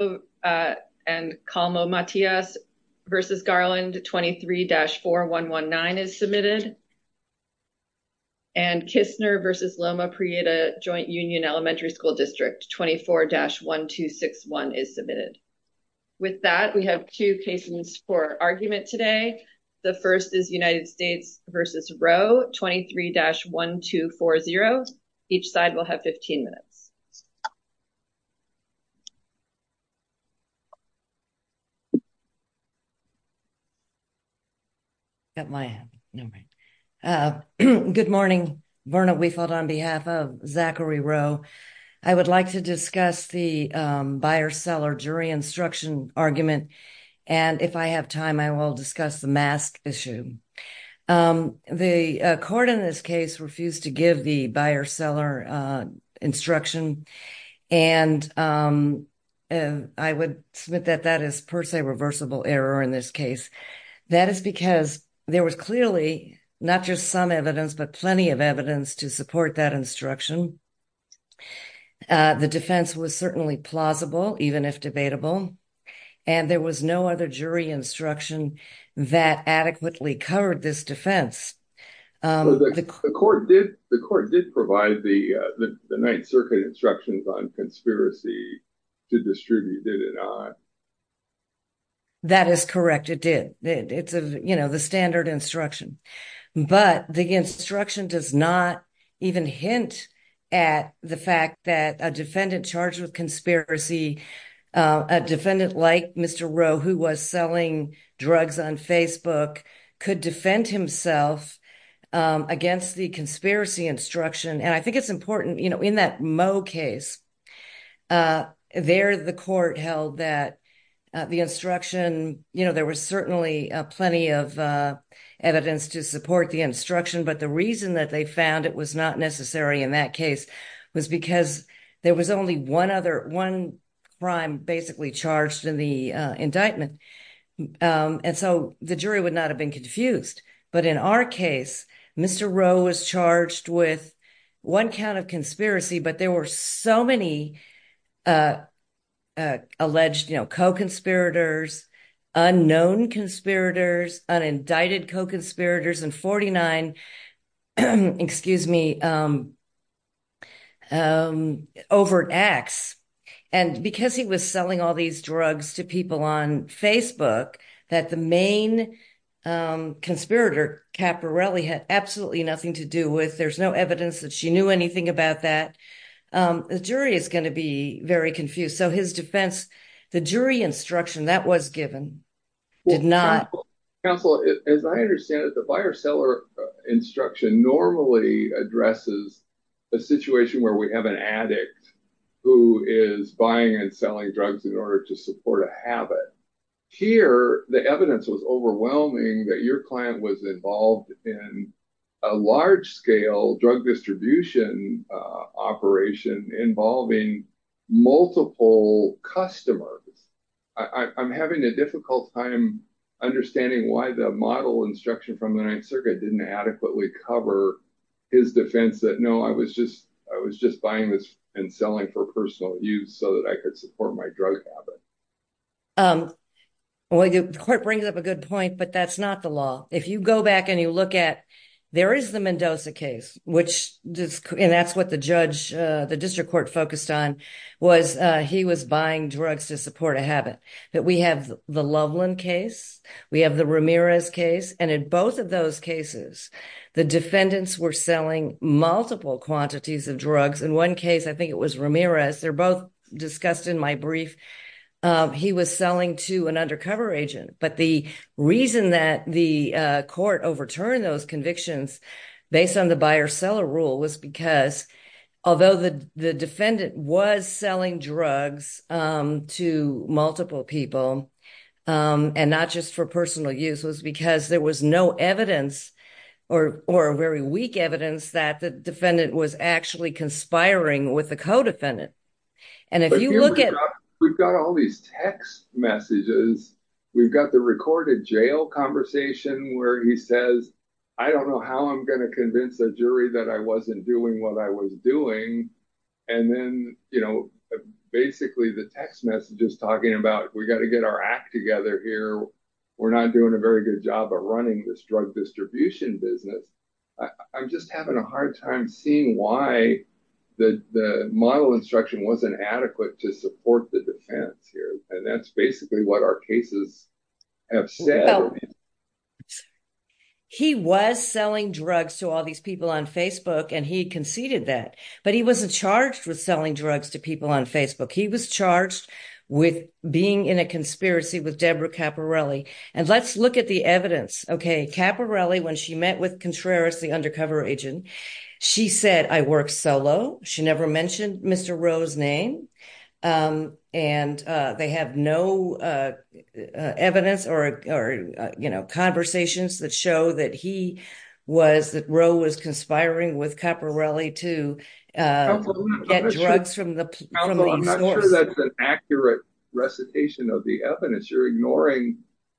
and Calmo Matias v. Garland 23-4119 is submitted, and Kistner v. Loma Prieta Joint Union Elementary School District 24-1261 is submitted. With that, we have two cases for argument today. The first is United States v. Rowe 23-1240. Each side will have 15 minutes. Good morning. Verna Weifold on behalf of Zachary Rowe. I would like to discuss the buyer-seller jury instruction argument, and if I have time I will discuss the mask issue. The court in this seller instruction, and I would submit that that is per se reversible error in this case. That is because there was clearly not just some evidence, but plenty of evidence to support that instruction. The defense was certainly plausible, even if debatable, and there was no other jury instruction that adequately covered this defense. The court did provide the Ninth Circuit instructions on conspiracy to distribute, did it not? That is correct, it did. It's, you know, the standard instruction, but the instruction does not even hint at the fact that a defendant charged with conspiracy, a defendant like Mr. Rowe who was selling drugs on Facebook, could defend himself against the conspiracy instruction. And I think it's important, you know, in that Moe case, there the court held that the instruction, you know, there was certainly plenty of evidence to support the instruction, but the reason that they found it was not necessary in that case was because there was only one other, one crime basically charged in indictment. And so the jury would not have been confused. But in our case, Mr. Rowe was charged with one count of conspiracy, but there were so many alleged, you know, co-conspirators, unknown conspirators, unindicted co-conspirators, and 49, excuse me, overt acts. And because he was selling all these drugs to people on Facebook, that the main conspirator, Caporelli, had absolutely nothing to do with, there's no evidence that she knew anything about that, the jury is going to be very confused. So his defense, the jury instruction that was given did not. Counsel, as I understand it, the buyer-seller instruction normally addresses a situation where we have an addict who is buying and selling drugs in order to support a habit. Here, the evidence was overwhelming that your client was involved in a large-scale drug distribution operation involving multiple customers. I'm having a difficult time understanding why the model instruction from the Ninth Circuit didn't adequately cover his defense that, no, I was just, I was just buying this and selling for personal use so that I could support my drug habit. Well, the court brings up a good point, but that's not the law. If you go back and you look at, there is the Mendoza case, which, and that's what the judge, the district court focused on, was he was buying drugs to support a habit. But we have the Loveland case, we have the Ramirez case, and in both of those cases, the defendants were selling multiple quantities of drugs. In one case, I think it was Ramirez, they're both discussed in my brief, he was selling to an undercover agent. But the reason that the court overturned those convictions based on the buyer-seller rule was because, although the defendant was selling drugs to multiple people, and not just for personal use, was because there was no evidence or very weak evidence that the defendant was actually conspiring with the co-defendant. And if you look we've got all these text messages, we've got the recorded jail conversation where he says, I don't know how I'm going to convince a jury that I wasn't doing what I was doing. And then, you know, basically the text messages talking about, we got to get our act together here. We're not doing a very good job of running this drug distribution business. I'm just having a hard time seeing why the model instruction wasn't adequate to support the defense here. And that's basically what our cases have said. He was selling drugs to all these people on Facebook, and he conceded that. But he wasn't charged with selling drugs to people on Facebook. He was charged with being in a conspiracy with Debra Caporelli. And let's look at the evidence. Okay. Caporelli, when she met with Contreras, the undercover agent, she said, I work solo. She never mentioned Mr. Rowe's name. And they have no evidence or, you know, conversations that show that he was, that Rowe was conspiring with Caporelli to get drugs from the police. That's an accurate recitation of the evidence. You're ignoring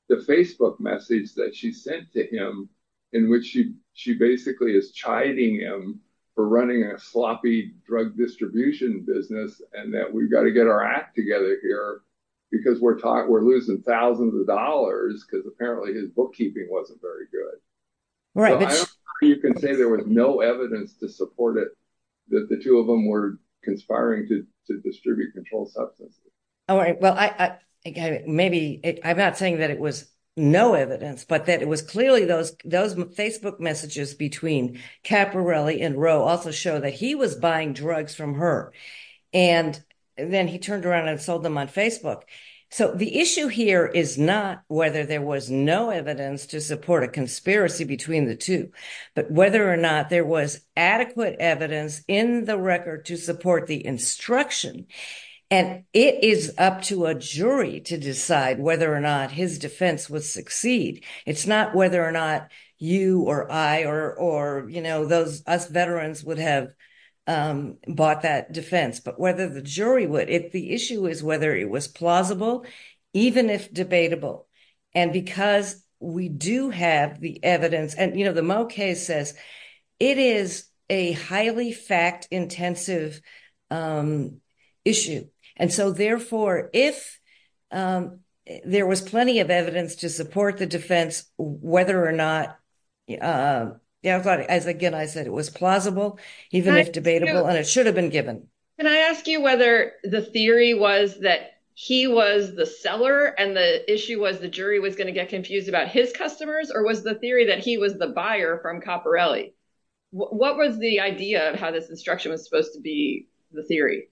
the Facebook message that she sent to him in which she basically is chiding him for running a sloppy drug distribution business, and that we've got to get our act together here because we're losing thousands of dollars, because apparently his bookkeeping wasn't very good. You can say there was no evidence to support that the two of them were conspiring to distribute controlled substances. All right. Well, maybe I'm not saying that it was no evidence, but that it was clearly those Facebook messages between Caporelli and Rowe also show that he was buying drugs from her. And then he turned around and sold them on Facebook. So the issue here is not whether there was no evidence to support a conspiracy between the two, but whether or not there was adequate evidence in the record to support the instruction. And it is up to a jury to decide whether or not his defense would succeed. It's not whether or not you or I or, you know, those us veterans would have bought that defense, but whether the jury would. The issue is whether it was plausible, even if debatable. And because we do have the evidence and, you know, the Moe case says it is a highly fact intensive issue. And so therefore, if there was plenty of evidence to support the defense, whether or not, as again, I said, it was plausible, even if debatable, and it should have been given. Can I ask you whether the theory was that he was the seller and the issue was the jury was going to get confused about his customers, or was the theory that he was the buyer from Caporelli? What was the idea of how this instruction was supposed to be the theory?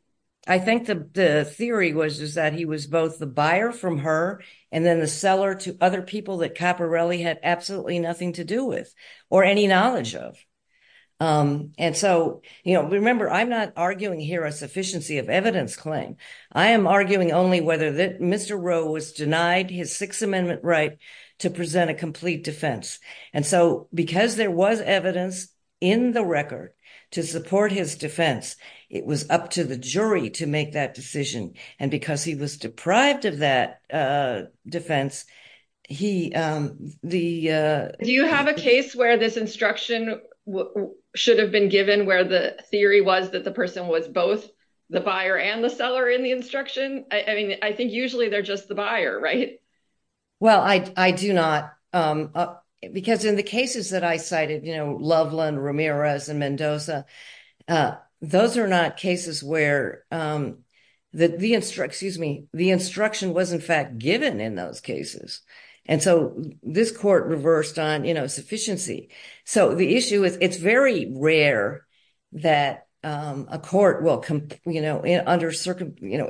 I think the theory was, is that he was both the buyer from her and then the seller to other people that Caporelli had absolutely nothing to do with, or any knowledge of. And so, you know, remember, I'm not arguing here a sufficiency of evidence claim. I am arguing only whether Mr. Roe was denied his Sixth Amendment right to present a complete defense. And so because there was evidence in the record to support his defense, it was up to the jury to make that decision. And because he was deprived of that defense, he, the... Do you have a case where this instruction should have been given where the theory was that the person was both the buyer and the seller in the instruction? I mean, I think usually they're just the buyer, right? Well, I do not, because in the cases that I cited, you know, Loveland, Ramirez, and Mendoza, those are not cases where the instruction was in fact given in those cases. And so this court reversed on, you know, sufficiency. So the issue is, it's very rare that a court will, you know, under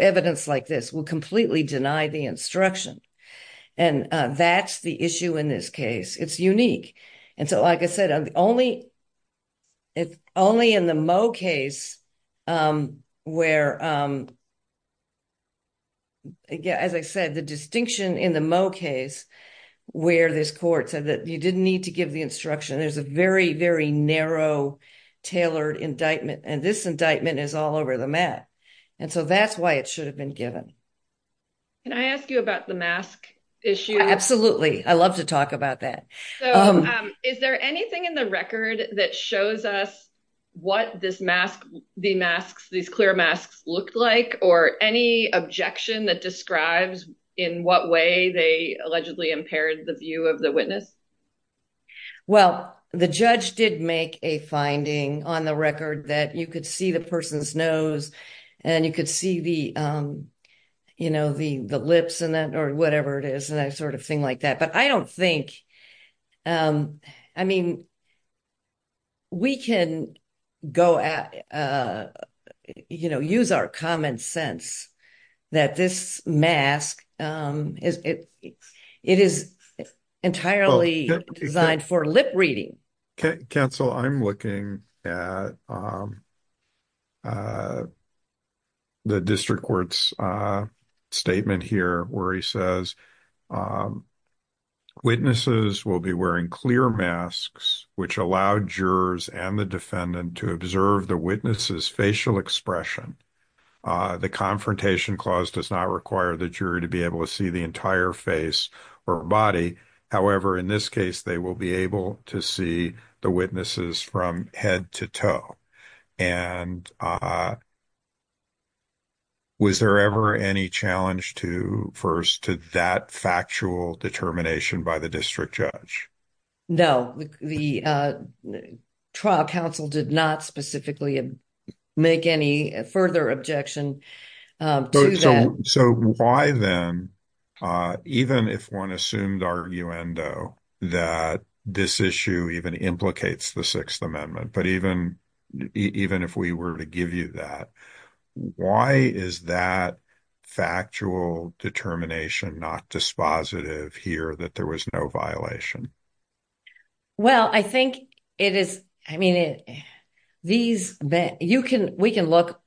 evidence like this, will completely deny the instruction. And that's the issue in this case. It's unique. And so, like I said, only in the Moe case, where, as I said, the distinction in the Moe case, where this court said that you didn't need to give the instruction, there's a very, very narrow, tailored indictment, and this indictment is all over the map. And so that's why it should have been given. Can I ask you about the mask issue? Absolutely. I love to talk about that. So is there anything in the record that shows us what this mask, the masks, these clear masks looked like, or any objection that describes in what way they allegedly impaired the view of the witness? Well, the judge did make a finding on the record that you could see the person's nose, and you could see the, you know, the lips and that, or whatever it is, and that sort of thing like that. But I don't think, I mean, we can go at, you know, use our common sense that this mask, it is entirely designed for lip reading. Counsel, I'm looking at the district court's statement here, where he says, witnesses will be wearing clear masks, which allowed jurors and the defendant to observe the witness's facial expression. The confrontation clause does not require the jury to be able to see the entire face or body. However, in this case, they will be able to see the witnesses from head to toe. And was there ever any challenge to, first, to that factual determination by the district judge? No, the trial counsel did not specifically make any further objection to that. So why then, even if one assumed arguendo, that this issue even implicates the Sixth Amendment, but even if we were to give you that, why is that factual determination not dispositive here that there was no violation? Well, I think it is, I mean, these, you can, we can look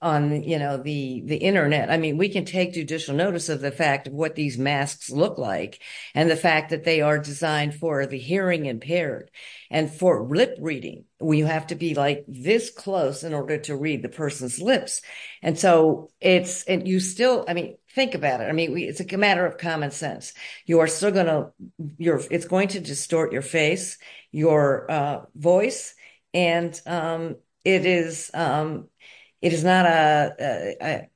on, you know, the internet. I mean, we can take judicial notice of the fact of what these masks look like, and the fact that they are designed for the hearing impaired. And for lip reading, we have to be like this close in order to read the person's lips. And so it's, and you still, I mean, think about it. I mean, it's a matter of common sense. You are still going to, you're, it's going to distort your face, your voice. And it is, it is not a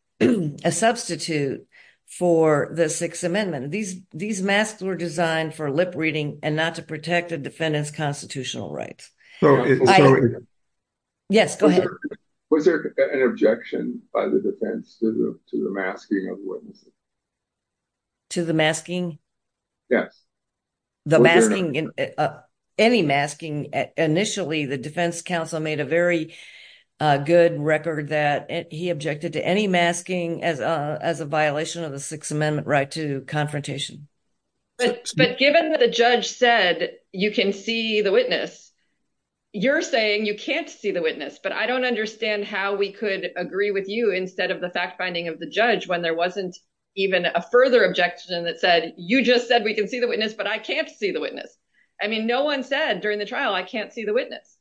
substitute for the Sixth Amendment. These masks were designed for lip reading and not to protect a defendant's constitutional rights. So, yes, go ahead. Was there an objection by the defense to the masking of witnesses? To the masking? Yes. The masking, any masking, initially the defense counsel made a very good record that he objected to any masking as a violation of the Sixth Amendment right to confrontation. But given that the judge said you can see the witness, you're saying you can't see the witness, but I don't understand how we could agree with you instead of the fact finding of the judge when there wasn't even a further objection that said, you just said we can see the witness, but I can't see the witness. I mean, no one said during the trial, I can't see the witness.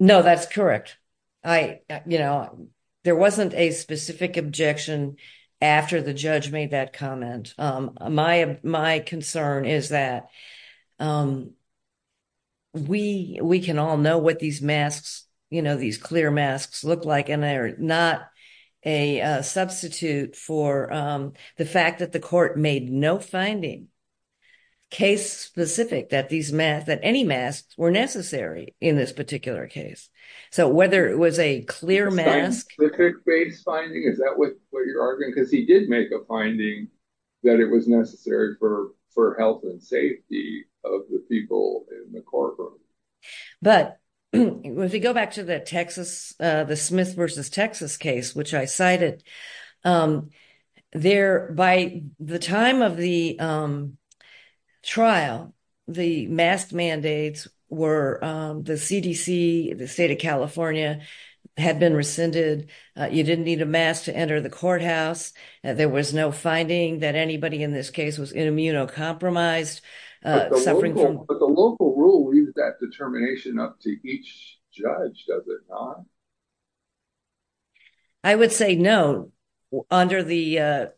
No, that's correct. I, you know, there wasn't a specific objection after the judge made that comment. My, my concern is that we, we can all know what these masks, you know, these clear masks look like, and they're not a substitute for the fact that the court made no finding case specific that these masks, any masks were necessary in this particular case. So whether it was a clear mask, because he did make a finding that it was necessary for, for health and safety of the people in the courtroom. But if we go back to the Texas, the Smith versus Texas case, which I cited there by the time of the trial, the mask mandates were the CDC, the state of California had been rescinded. You didn't need a mask to enter the courthouse. There was no finding that anybody in this case was immunocompromised. But the local rule, that determination up to each judge, does it not? I would say no, under the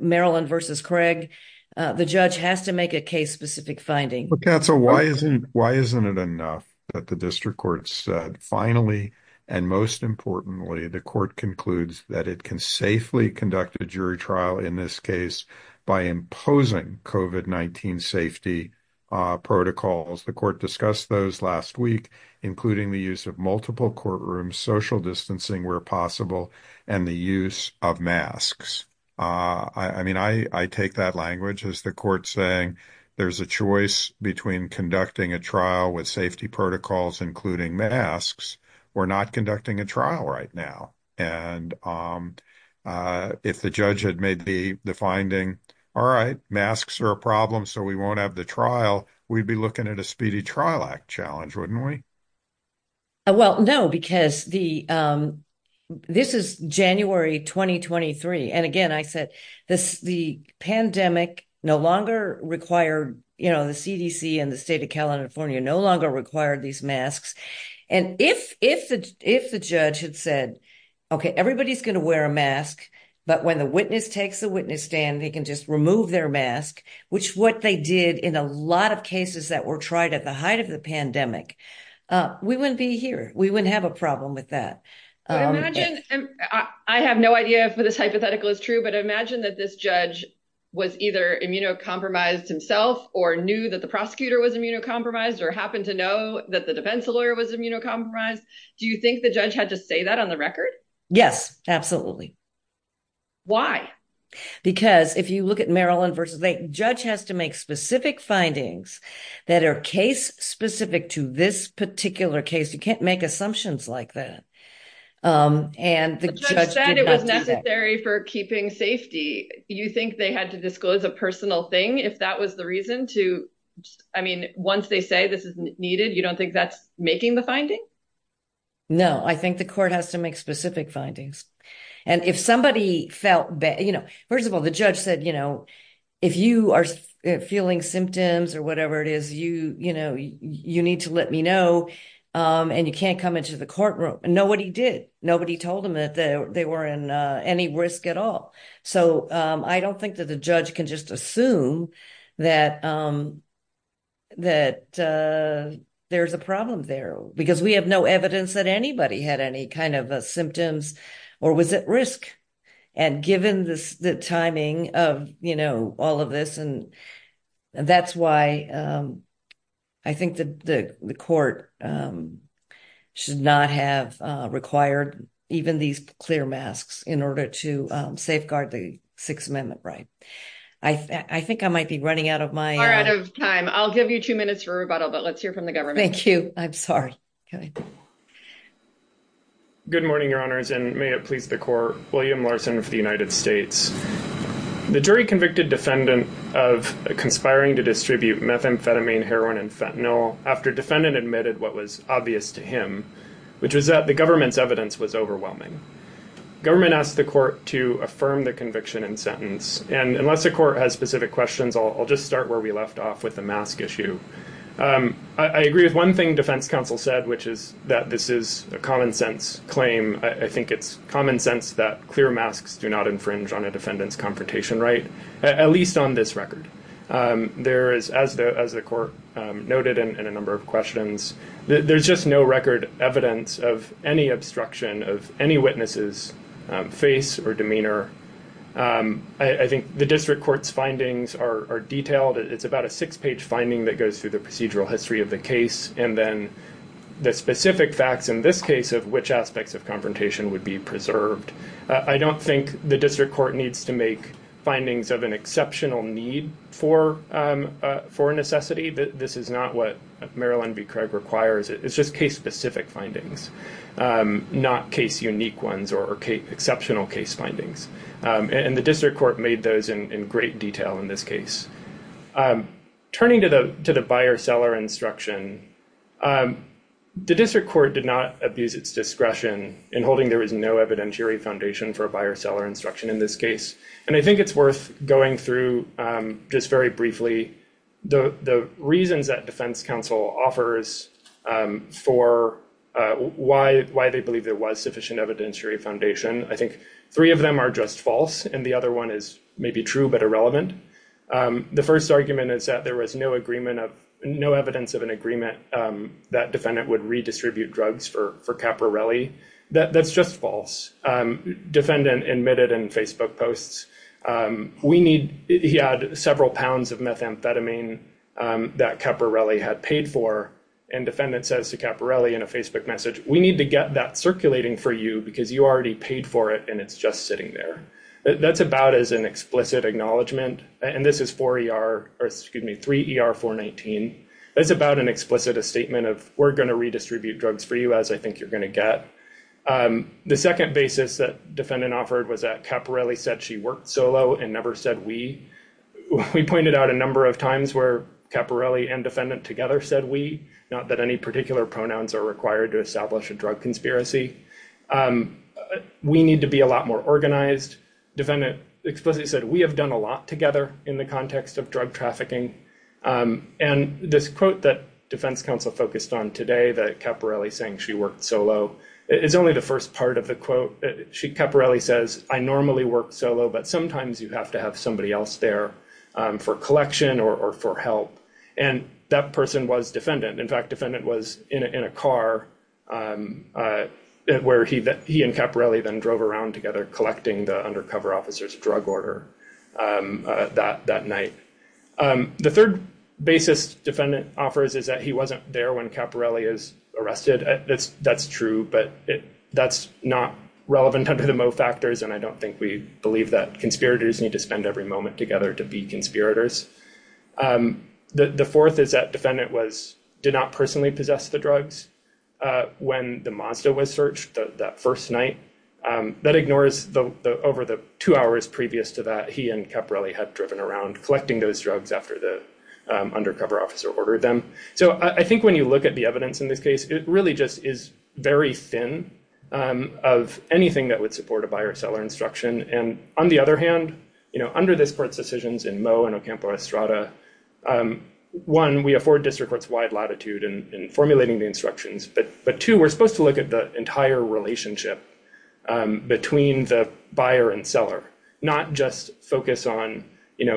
Maryland versus Craig, the judge has to make a case specific finding. Why isn't it enough that the district court said finally, and most importantly, the court concludes that it can safely conduct a jury trial in this case by imposing COVID-19 safety protocols. The court discussed those last week, including the use of multiple courtrooms, social distancing where possible, and the use of masks. I mean, I take that language as the court saying, there's a choice between conducting a trial with safety protocols, including masks, we're not conducting a trial right now. And if the judge had made the finding, all right, masks are a problem, so we won't have the trial, we'd be looking at a speedy trial act challenge, wouldn't we? Well, no, because this is January 2023. And again, I said, the pandemic no longer required, the CDC and the state of California no longer required these masks. And if the judge had said, okay, everybody's going to wear a mask, but when the witness takes a witness stand, they can just remove their mask, which what they did in a lot of cases that were tried at the height of the pandemic, we wouldn't be here, we wouldn't have a problem with that. I have no idea if this hypothetical is true, but imagine that this judge was either immunocompromised himself or knew that the prosecutor was immunocompromised or happened to know that the defense lawyer was immunocompromised. Do you think the judge had to say that on the record? Yes, absolutely. Why? Because if you look at Maryland versus Lake, judge has to make specific findings that are case specific to this particular case. You can't make assumptions like that. And the judge said it was necessary for keeping safety. You think they had to disclose a personal thing if that was the reason to, I mean, once they say this is needed, you don't think that's the finding? No, I think the court has to make specific findings. And if somebody felt bad, first of all, the judge said, if you are feeling symptoms or whatever it is, you need to let me know and you can't come into the courtroom and nobody did. Nobody told him that they were in any risk at all. So I don't think that the judge can just assume that there's a problem there. Because we have no evidence that anybody had any kind of symptoms or was at risk. And given this, the timing of, you know, all of this and that's why I think that the court should not have required even these clear masks in order to safeguard the Sixth Amendment right. I think I might be running out of my time. I'll give you two minutes for rebuttal, but let's hear from the government. Thank you. I'm sorry. Good morning, Your Honors, and may it please the court. William Larson for the United States. The jury convicted defendant of conspiring to distribute methamphetamine, heroin, and fentanyl after defendant admitted what was obvious to him, which was that the government's evidence was overwhelming. Government asked the court to affirm the conviction and sentence. And unless the court has specific questions, I'll just start where we left off with the mask issue. I agree with one thing defense counsel said, which is that this is a common sense claim. I think it's common sense that clear masks do not infringe on a defendant's confrontation right, at least on this record. There is, as the court noted in a number of questions, there's just no record evidence of any obstruction of any witness's face or demeanor. I think the district court's findings are detailed. It's about a six-page finding that goes through the procedural history of the case, and then the specific facts in this case of which aspects of confrontation would be preserved. I don't think the district court needs to make findings of an exceptional need for necessity. This is not what Marilyn B. Craig requires. It's just case-specific findings, not case-unique ones or exceptional case findings. And the district court made those in great detail in this case. Turning to the buyer-seller instruction, the district court did not abuse its discretion in holding there is no evidentiary foundation for a buyer-seller instruction in this case. And I think it's worth going through just very briefly the reasons that defense counsel offers for why they believe there was evidentiary foundation. I think three of them are just false, and the other one is maybe true but irrelevant. The first argument is that there was no evidence of an agreement that defendant would redistribute drugs for Caporelli. That's just false. Defendant admitted in Facebook posts, he had several pounds of methamphetamine that Caporelli had paid for, and defendant says to Caporelli in a Facebook message, we need to get that circulating for you because you already paid for it and it's just sitting there. That's about as an explicit acknowledgement. And this is 4ER, or excuse me, 3ER419. That's about an explicit statement of we're going to redistribute drugs for you as I think you're going to get. The second basis that defendant offered was that Caporelli said she worked solo and never said we. We pointed out a number of times where Caporelli and defendant together said we, not that any particular pronouns are required to establish a drug conspiracy. We need to be a lot more organized. Defendant explicitly said we have done a lot together in the context of drug trafficking. And this quote that defense counsel focused on today that Caporelli is saying she worked solo, it's only the first part of the quote. Caporelli says I normally work solo, but sometimes you have to have somebody else there for collection or for help. And that person was defendant. In fact, defendant was in a car where he and Caporelli then drove around together collecting the undercover officer's drug order that night. The third basis defendant offers is that he wasn't there when Caporelli is arrested. That's true, but that's not relevant under the Moe factors and I don't think we believe that conspirators need to spend every moment together to be conspirators. The fourth is that defendant did not personally possess the drugs when the Mazda was searched that first night. That ignores the over the two hours previous to that he and Caporelli had driven around collecting those drugs after the undercover officer ordered them. So I think when you look at the evidence in this case, it really just is very thin of anything that would support a buyer-seller instruction. And on the other hand, under this court's decisions in Moe and Ocampo-Estrada, one, we afford district courts wide latitude in formulating the instructions, but two, we're supposed to look at the entire relationship between the buyer and seller, not just focus on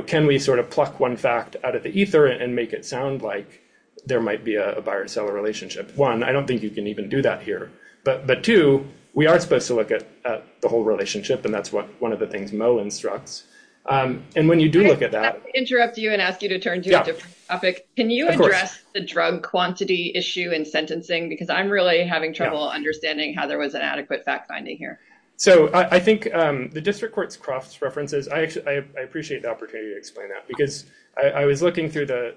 can we sort of pluck one fact out of the ether and make it sound like there might be a buyer-seller relationship. One, I don't think you can even do that here, but two, we are supposed to look at the whole relationship and that's what one of the things Moe instructs. And when you do look at that... Can I interrupt you and ask you to turn to a different topic? Can you address the drug quantity issue in sentencing? Because I'm really having trouble understanding how there was an adequate fact-finding here. So I think the district court's cross references, I appreciate the opportunity to explain that because I was looking through the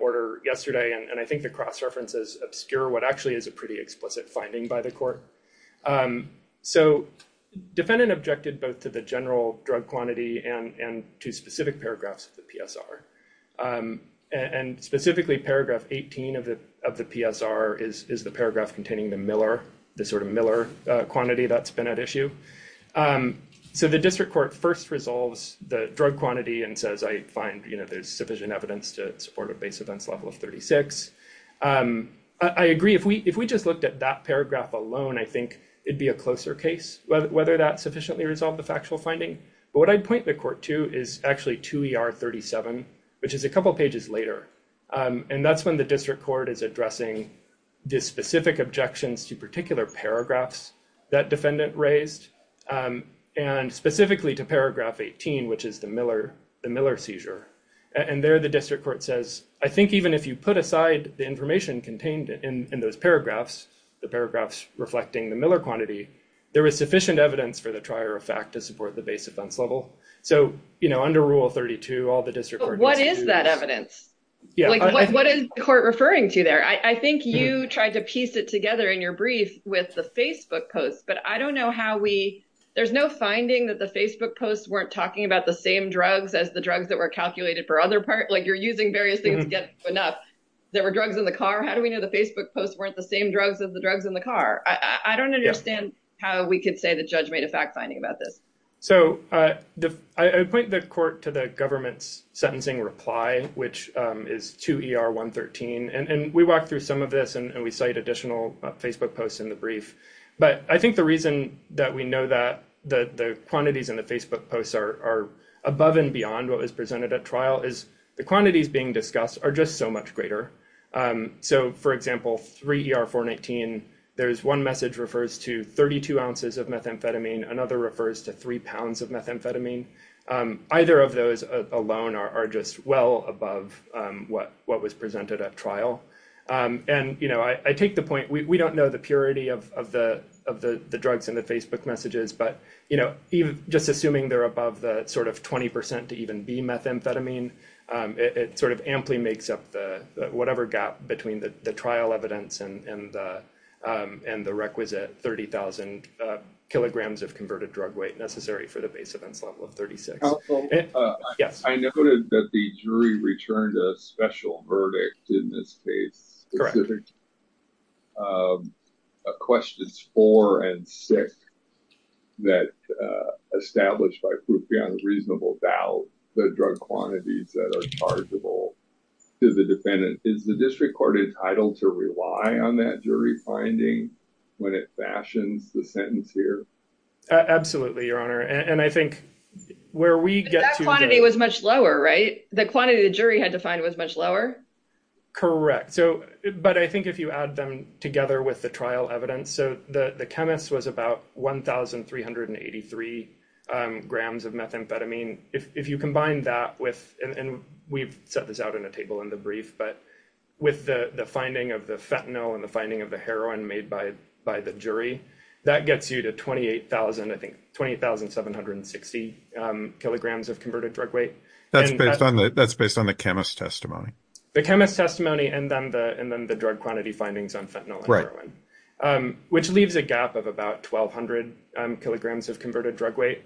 order yesterday and I think the cross references obscure what actually is a pretty explicit finding by the court. So defendant objected both to the general drug quantity and to specific paragraphs of the PSR. And specifically paragraph 18 of the PSR is the paragraph containing the Miller, the sort of Miller quantity that's been at issue. So the district court first resolves the drug quantity and says, I find there's sufficient evidence to support a base events level of 36. I agree. If we just looked at that paragraph alone, I think it'd be a closer case whether that sufficiently resolved the factual finding. But what I'd point the court to is actually to ER 37, which is a couple of pages later. And that's when the district court is addressing the specific objections to particular paragraphs that defendant raised. And specifically to paragraph 18, which is the Miller seizure. And there the district court says, I think even if you put aside the information contained in those paragraphs, the paragraphs reflecting the Miller quantity, there is sufficient evidence for the trier of fact to support the base events level. So under rule 32, all the district court- What is that evidence? What is the court referring to there? I think you tried to piece it together in your brief with the Facebook posts, but I don't know how we, there's no finding that the Facebook posts weren't talking about the same drugs as the drugs that were calculated for other parts. Like you're using various things to get enough. There were drugs in the car. How do we know the Facebook posts weren't the same drugs as the drugs in the car? I don't understand how we could say the judge made a fact finding about this. So I would point the court to the government's sentencing reply, which is to ER 113. And we walked through some of this and we cite additional Facebook posts in the brief. But I think the reason that we know that the quantities in the Facebook posts are above and beyond what was presented at trial is the quantities being discussed are just so much greater. So for example, three ER 419, there's one message refers to 32 ounces of methamphetamine. Another refers to three pounds of methamphetamine. Either of those alone are just well above what was presented at trial. And I take the point, we don't know the purity of the drugs in the Facebook messages, but just assuming they're above the sort of 20% to even B methamphetamine, it sort of amply makes up the whatever gap between the trial evidence and the requisite 30,000 kilograms of converted drug weight necessary for the base events level of 36. I noted that the jury returned a special verdict in this case. A question is for and six that established by proof beyond reasonable doubt the drug quantities that are chargeable to the defendant is the district court entitled to rely on that jury finding when it fashions the sentence here? Absolutely, Your Honor. And I think where we get to that quantity was much lower, right? The quantity the jury had to find was much lower? Correct. But I think if you add them together with the trial evidence, so the chemist was about 1,383 grams of methamphetamine. If you combine that with, and we've set this out in a table in the brief, but with the finding of the fentanyl and the finding of the heroin made by the jury, that gets you to 28,760 kilograms of converted drug weight. That's based on the chemist's testimony. The chemist's testimony and then the drug quantity findings on fentanyl and heroin, which leaves a gap of about 1,200 kilograms of converted drug weight.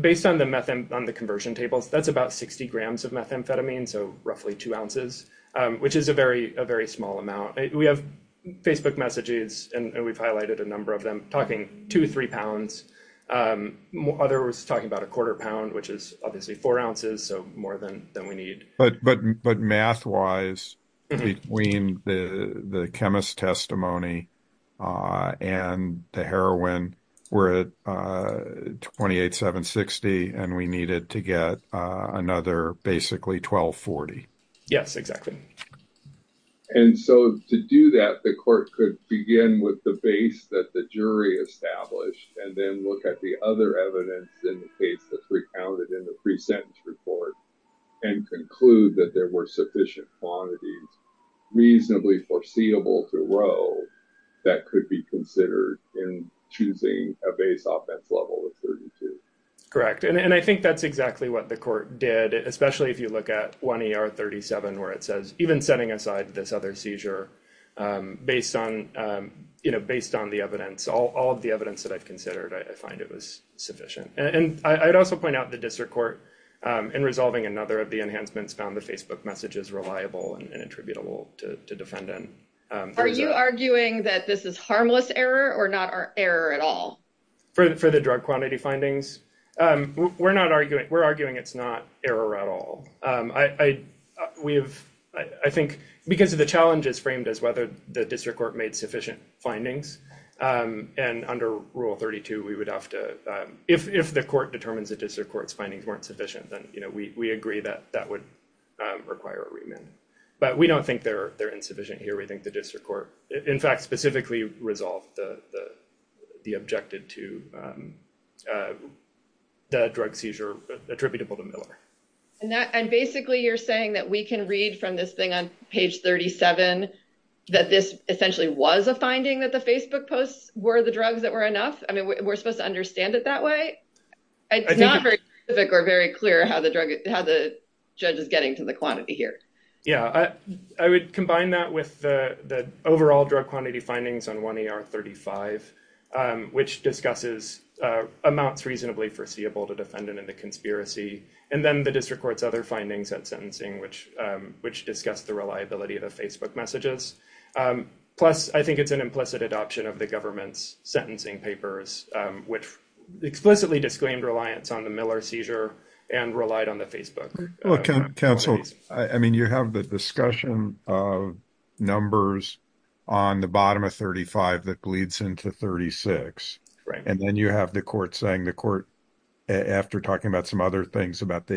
Based on the conversion tables, that's about 60 grams of methamphetamine, so roughly two ounces, which is a very small amount. We have Facebook messages and we've highlighted a number of them talking two, three pounds. Others talking about a quarter pound, which is obviously four ounces, so more than we need. Math-wise, between the chemist's testimony and the heroin, we're at 28,760 and we needed to get another basically 1,240. Yes, exactly. To do that, the court could begin with the base that the jury established and then look at the other evidence in the case that's recounted in the sentence report and conclude that there were sufficient quantities, reasonably foreseeable to row, that could be considered in choosing a base offense level of 32. Correct. I think that's exactly what the court did, especially if you look at 1ER37, where it says, even setting aside this other seizure, based on the evidence, all of the evidence that I've considered, I find it was sufficient. I'd also point out the district court, in resolving another of the enhancements, found the Facebook messages reliable and attributable to defendant. Are you arguing that this is harmless error or not error at all? For the drug quantity findings? We're arguing it's not error at all. I think because of the challenges framed as whether the district court made sufficient findings. Under Rule 32, if the court determines the district court's findings weren't sufficient, then we agree that that would require a remand. We don't think they're insufficient here. We think the district court, in fact, specifically resolved the objected to the drug seizure attributable to Miller. Basically, you're saying that we can read from this thing on page 37 that this essentially was a finding that the Facebook posts were the drugs that were enough? We're supposed to understand it that way? It's not very specific or very clear how the judge is getting to the quantity here. I would combine that with the overall drug quantity findings on 1ER35, which discusses amounts reasonably foreseeable to conspiracy. Then the district court's other findings at sentencing, which discuss the reliability of the Facebook messages. Plus, I think it's an implicit adoption of the government's sentencing papers, which explicitly disclaimed reliance on the Miller seizure and relied on the Facebook. Counsel, you have the discussion of numbers on the bottom of 35 that bleeds into 36. Then you have the court saying the court, after talking about some other things about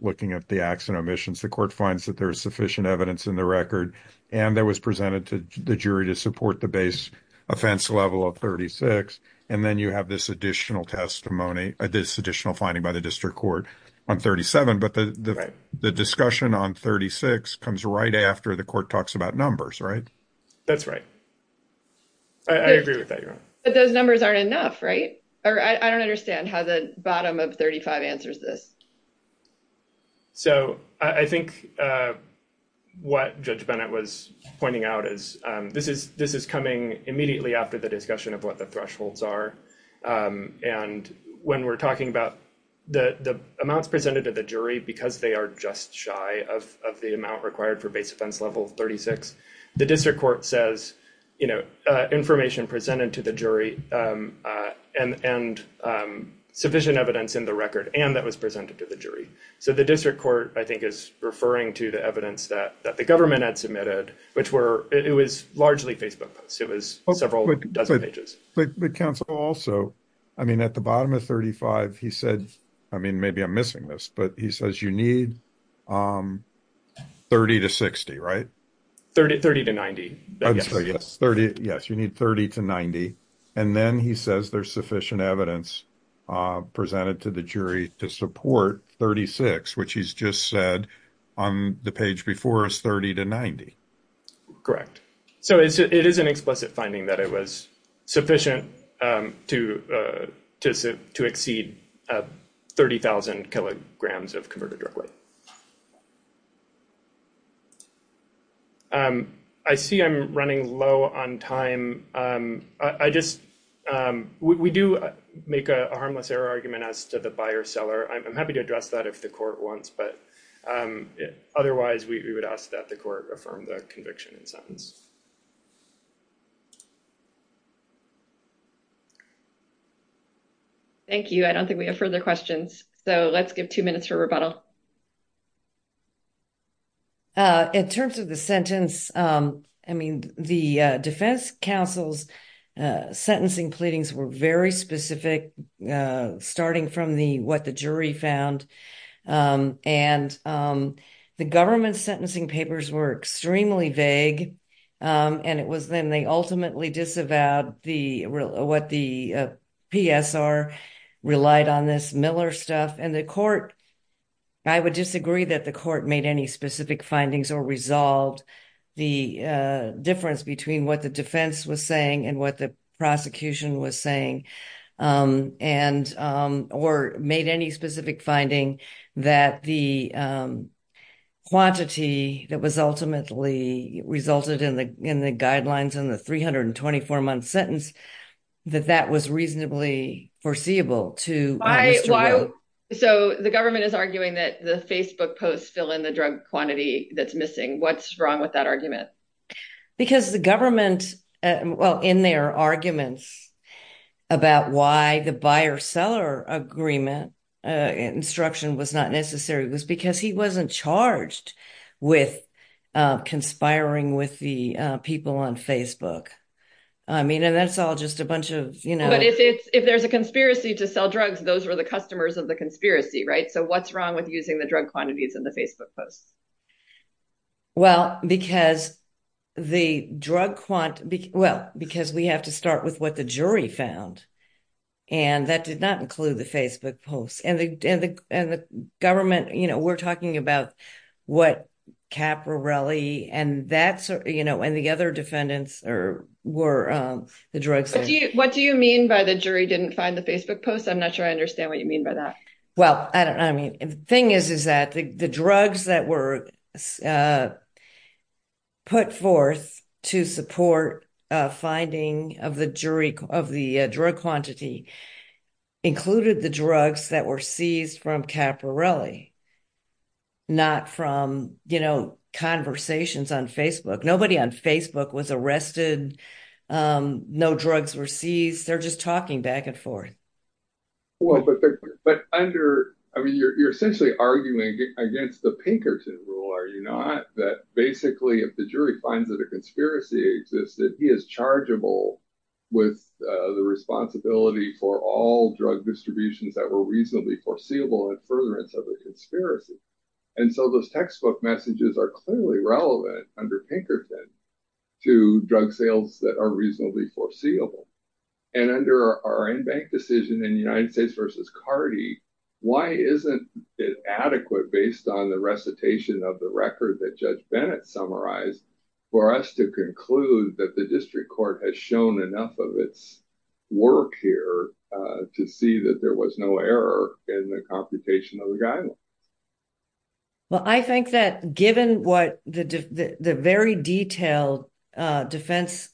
looking at the acts and omissions, the court finds that there's sufficient evidence in the record and that was presented to the jury to support the base offense level of 36. Then you have this additional testimony, this additional finding by the district court on 37. But the discussion on 36 comes right after the court talks about numbers, right? That's right. I agree with that, or I don't understand how the bottom of 35 answers this. I think what Judge Bennett was pointing out is this is coming immediately after the discussion of what the thresholds are. When we're talking about the amounts presented to the jury, because they are just shy of the amount required for base offense level 36, the district court says you know, information presented to the jury and sufficient evidence in the record and that was presented to the jury. So the district court, I think, is referring to the evidence that the government had submitted, which were, it was largely Facebook posts. It was several dozen pages. But Counsel, also, I mean, at the bottom of 35, he said, I mean, maybe I'm missing this, but he says you need 30 to 60, right? 30 to 90. Yes, you need 30 to 90. And then he says there's sufficient evidence presented to the jury to support 36, which he's just said on the page before us, 30 to 90. Correct. So it is an explicit finding that it was sufficient to exceed 30,000 kilograms of converted drug weight. I see I'm running low on time. I just, we do make a harmless error argument as to the buyer seller. I'm happy to address that if the court wants, but otherwise, we would ask that the court affirm the conviction in sentence. Thank you. I don't think we have further questions, so let's give two minutes for rebuttal. In terms of the sentence, I mean, the defense counsel's sentencing pleadings were very specific, starting from what the jury found. And the government's sentencing papers were extremely vague. And it was then they ultimately disavowed what the PSR relied on this Miller stuff. And the court, I would disagree that the court made any specific findings or resolved the difference between what the defense was saying and what the prosecution was saying, or made any specific finding that the quantity that was ultimately resulted in the guidelines in the 324 month sentence, that that was reasonably foreseeable to. So the government is arguing that the Facebook posts fill in the drug quantity that's missing. What's wrong with that argument? Because the well, in their arguments about why the buyer seller agreement instruction was not necessary, was because he wasn't charged with conspiring with the people on Facebook. I mean, and that's all just a bunch of, you know, if there's a conspiracy to sell drugs, those were the customers of the conspiracy, right? So what's wrong with using the drug quantities in the Facebook posts? Well, because the drug quant well, because we have to start with what the jury found. And that did not include the Facebook posts and the and the government, you know, we're talking about what caporelli and that's, you know, and the other defendants are were the drugs. What do you mean by the jury didn't find the Facebook posts? I'm not sure I understand what you mean by that. Well, I don't I mean, the thing is, is that the drugs that were put forth to support finding of the jury of the drug quantity included the drugs that were seized from caporelli. Not from, you know, conversations on Facebook, nobody on Facebook was arrested. No drugs were seized. They're just talking back and forth. Well, but but under I mean, you're essentially arguing against the Pinkerton rule, are you not? That basically, if the jury finds that a conspiracy exists, that he is chargeable with the responsibility for all drug distributions that were reasonably foreseeable and furtherance of the conspiracy. And so those textbook messages are clearly relevant under Pinkerton to drug sales that are reasonably foreseeable. And under our own bank decision in the United States versus Cardi, why isn't it adequate based on the recitation of the record that Judge Bennett summarized for us to conclude that the district court has shown enough of its work here to see that there was no error in the computation of the guidelines? Well, I think that given what the the very detailed defense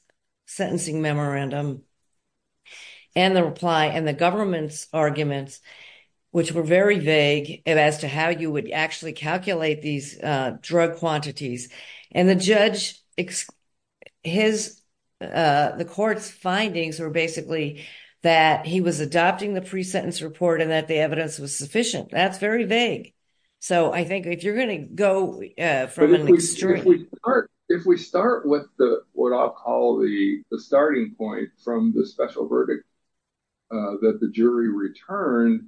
sentencing memorandum and the reply and the government's arguments, which were very vague as to how you would actually calculate these drug quantities and the judge, his, the court's findings were basically that he was adopting the pre-sentence report and that the evidence was sufficient. That's very vague. So I think if you're going to go from an extreme. If we start with the what I'll call the starting point from the special verdict that the jury returned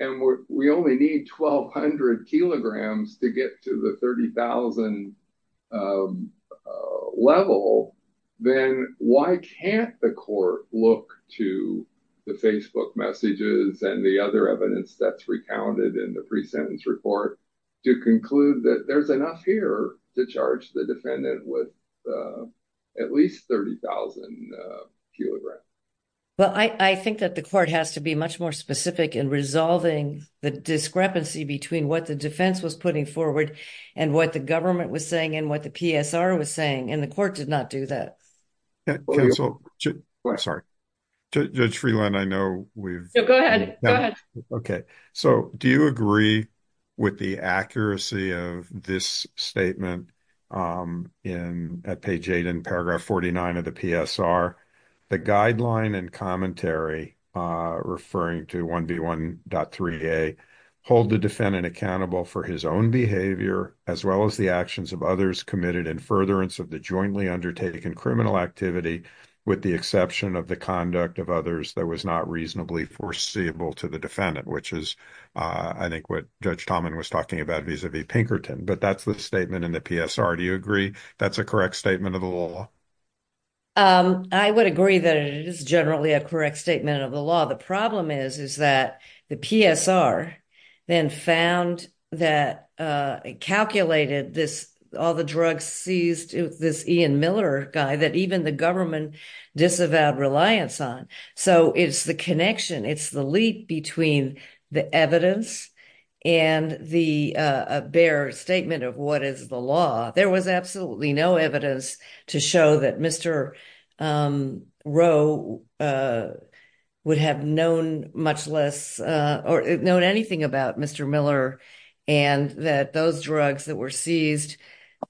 and we only need 1200 kilograms to get to the 30,000 level, then why can't the court look to the Facebook messages and the other evidence that's recounted in the pre-sentence report to conclude that there's enough here to charge the defendant with at least 30,000 kilograms? Well, I think that the court has to be much more specific in resolving the discrepancy between what the defense was putting forward and what the government was saying and what the PSR was saying, and the court did not do that. Sorry. Judge Freeland, I know we've. No, go ahead. Go ahead. Okay. So do you agree with the accuracy of this statement at page eight and paragraph 49 of the PSR, the guideline and commentary referring to 1B1.3a hold the defendant accountable for his behavior as well as the actions of others committed in furtherance of the jointly undertaken criminal activity with the exception of the conduct of others that was not reasonably foreseeable to the defendant, which is I think what Judge Talman was talking about vis-a-vis Pinkerton, but that's the statement in the PSR. Do you agree that's a correct statement of the law? I would agree that it is generally a correct statement of the law. The problem is that the PSR then found that, calculated this, all the drugs seized, this Ian Miller guy that even the government disavowed reliance on. So it's the connection, it's the leap between the evidence and the bare statement of what is the law. There was absolutely no evidence to show that Mr. Rowe would have known much less or known anything about Mr. Miller and that those drugs that were seized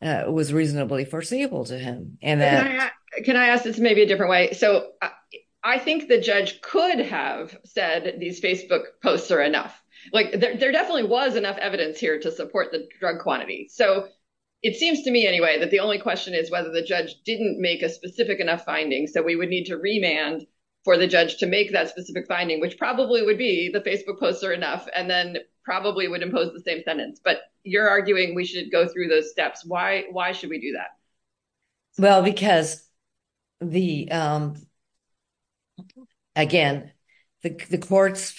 was reasonably foreseeable to him. Can I ask this maybe a different way? So I think the judge could have said these Facebook posts are enough. Like there definitely was enough evidence here to support the drug quantity. So it seems to me anyway, that the only question is whether the judge didn't make a specific enough finding. So we would need to remand for the judge to make that specific finding, which probably would be the Facebook posts are enough, and then probably would impose the same sentence. But you're arguing we should go through those steps. Why should we do that? Well, because again, the court's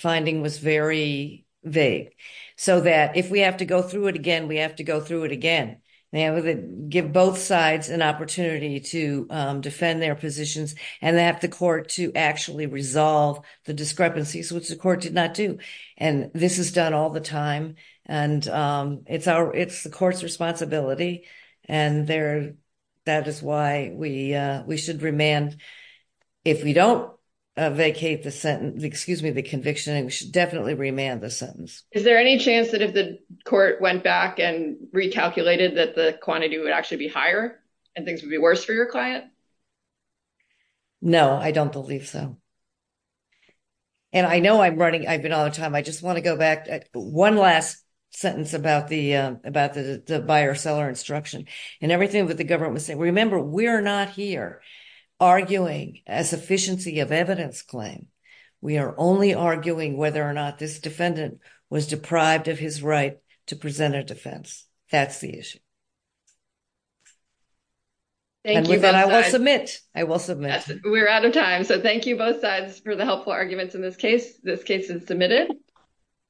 finding was very vague. So that if we have to go through it again, we have to go through it again. They have to give both sides an opportunity to defend their positions. And they have the court to actually resolve the discrepancies, which the court did not do. And this is done all the time. And it's the court's responsibility. And that is why we should remand. If we don't vacate the sentence, excuse me, the conviction, we should definitely remand the sentence. Is there any chance that if the court went back and recalculated that the quantity would actually be higher, and things would be worse for your client? No, I don't believe so. And I know I'm running, I've been on time. I just want to go back one last sentence about the buyer seller instruction, and everything that the government was saying. Remember, we're not here arguing a sufficiency of evidence claim. We are only arguing whether or not this defendant was deprived of his right to present a defense. That's the issue. Thank you. And I will submit. I will submit. We're out of time. So thank you both sides for the helpful arguments in this case. This case is submitted.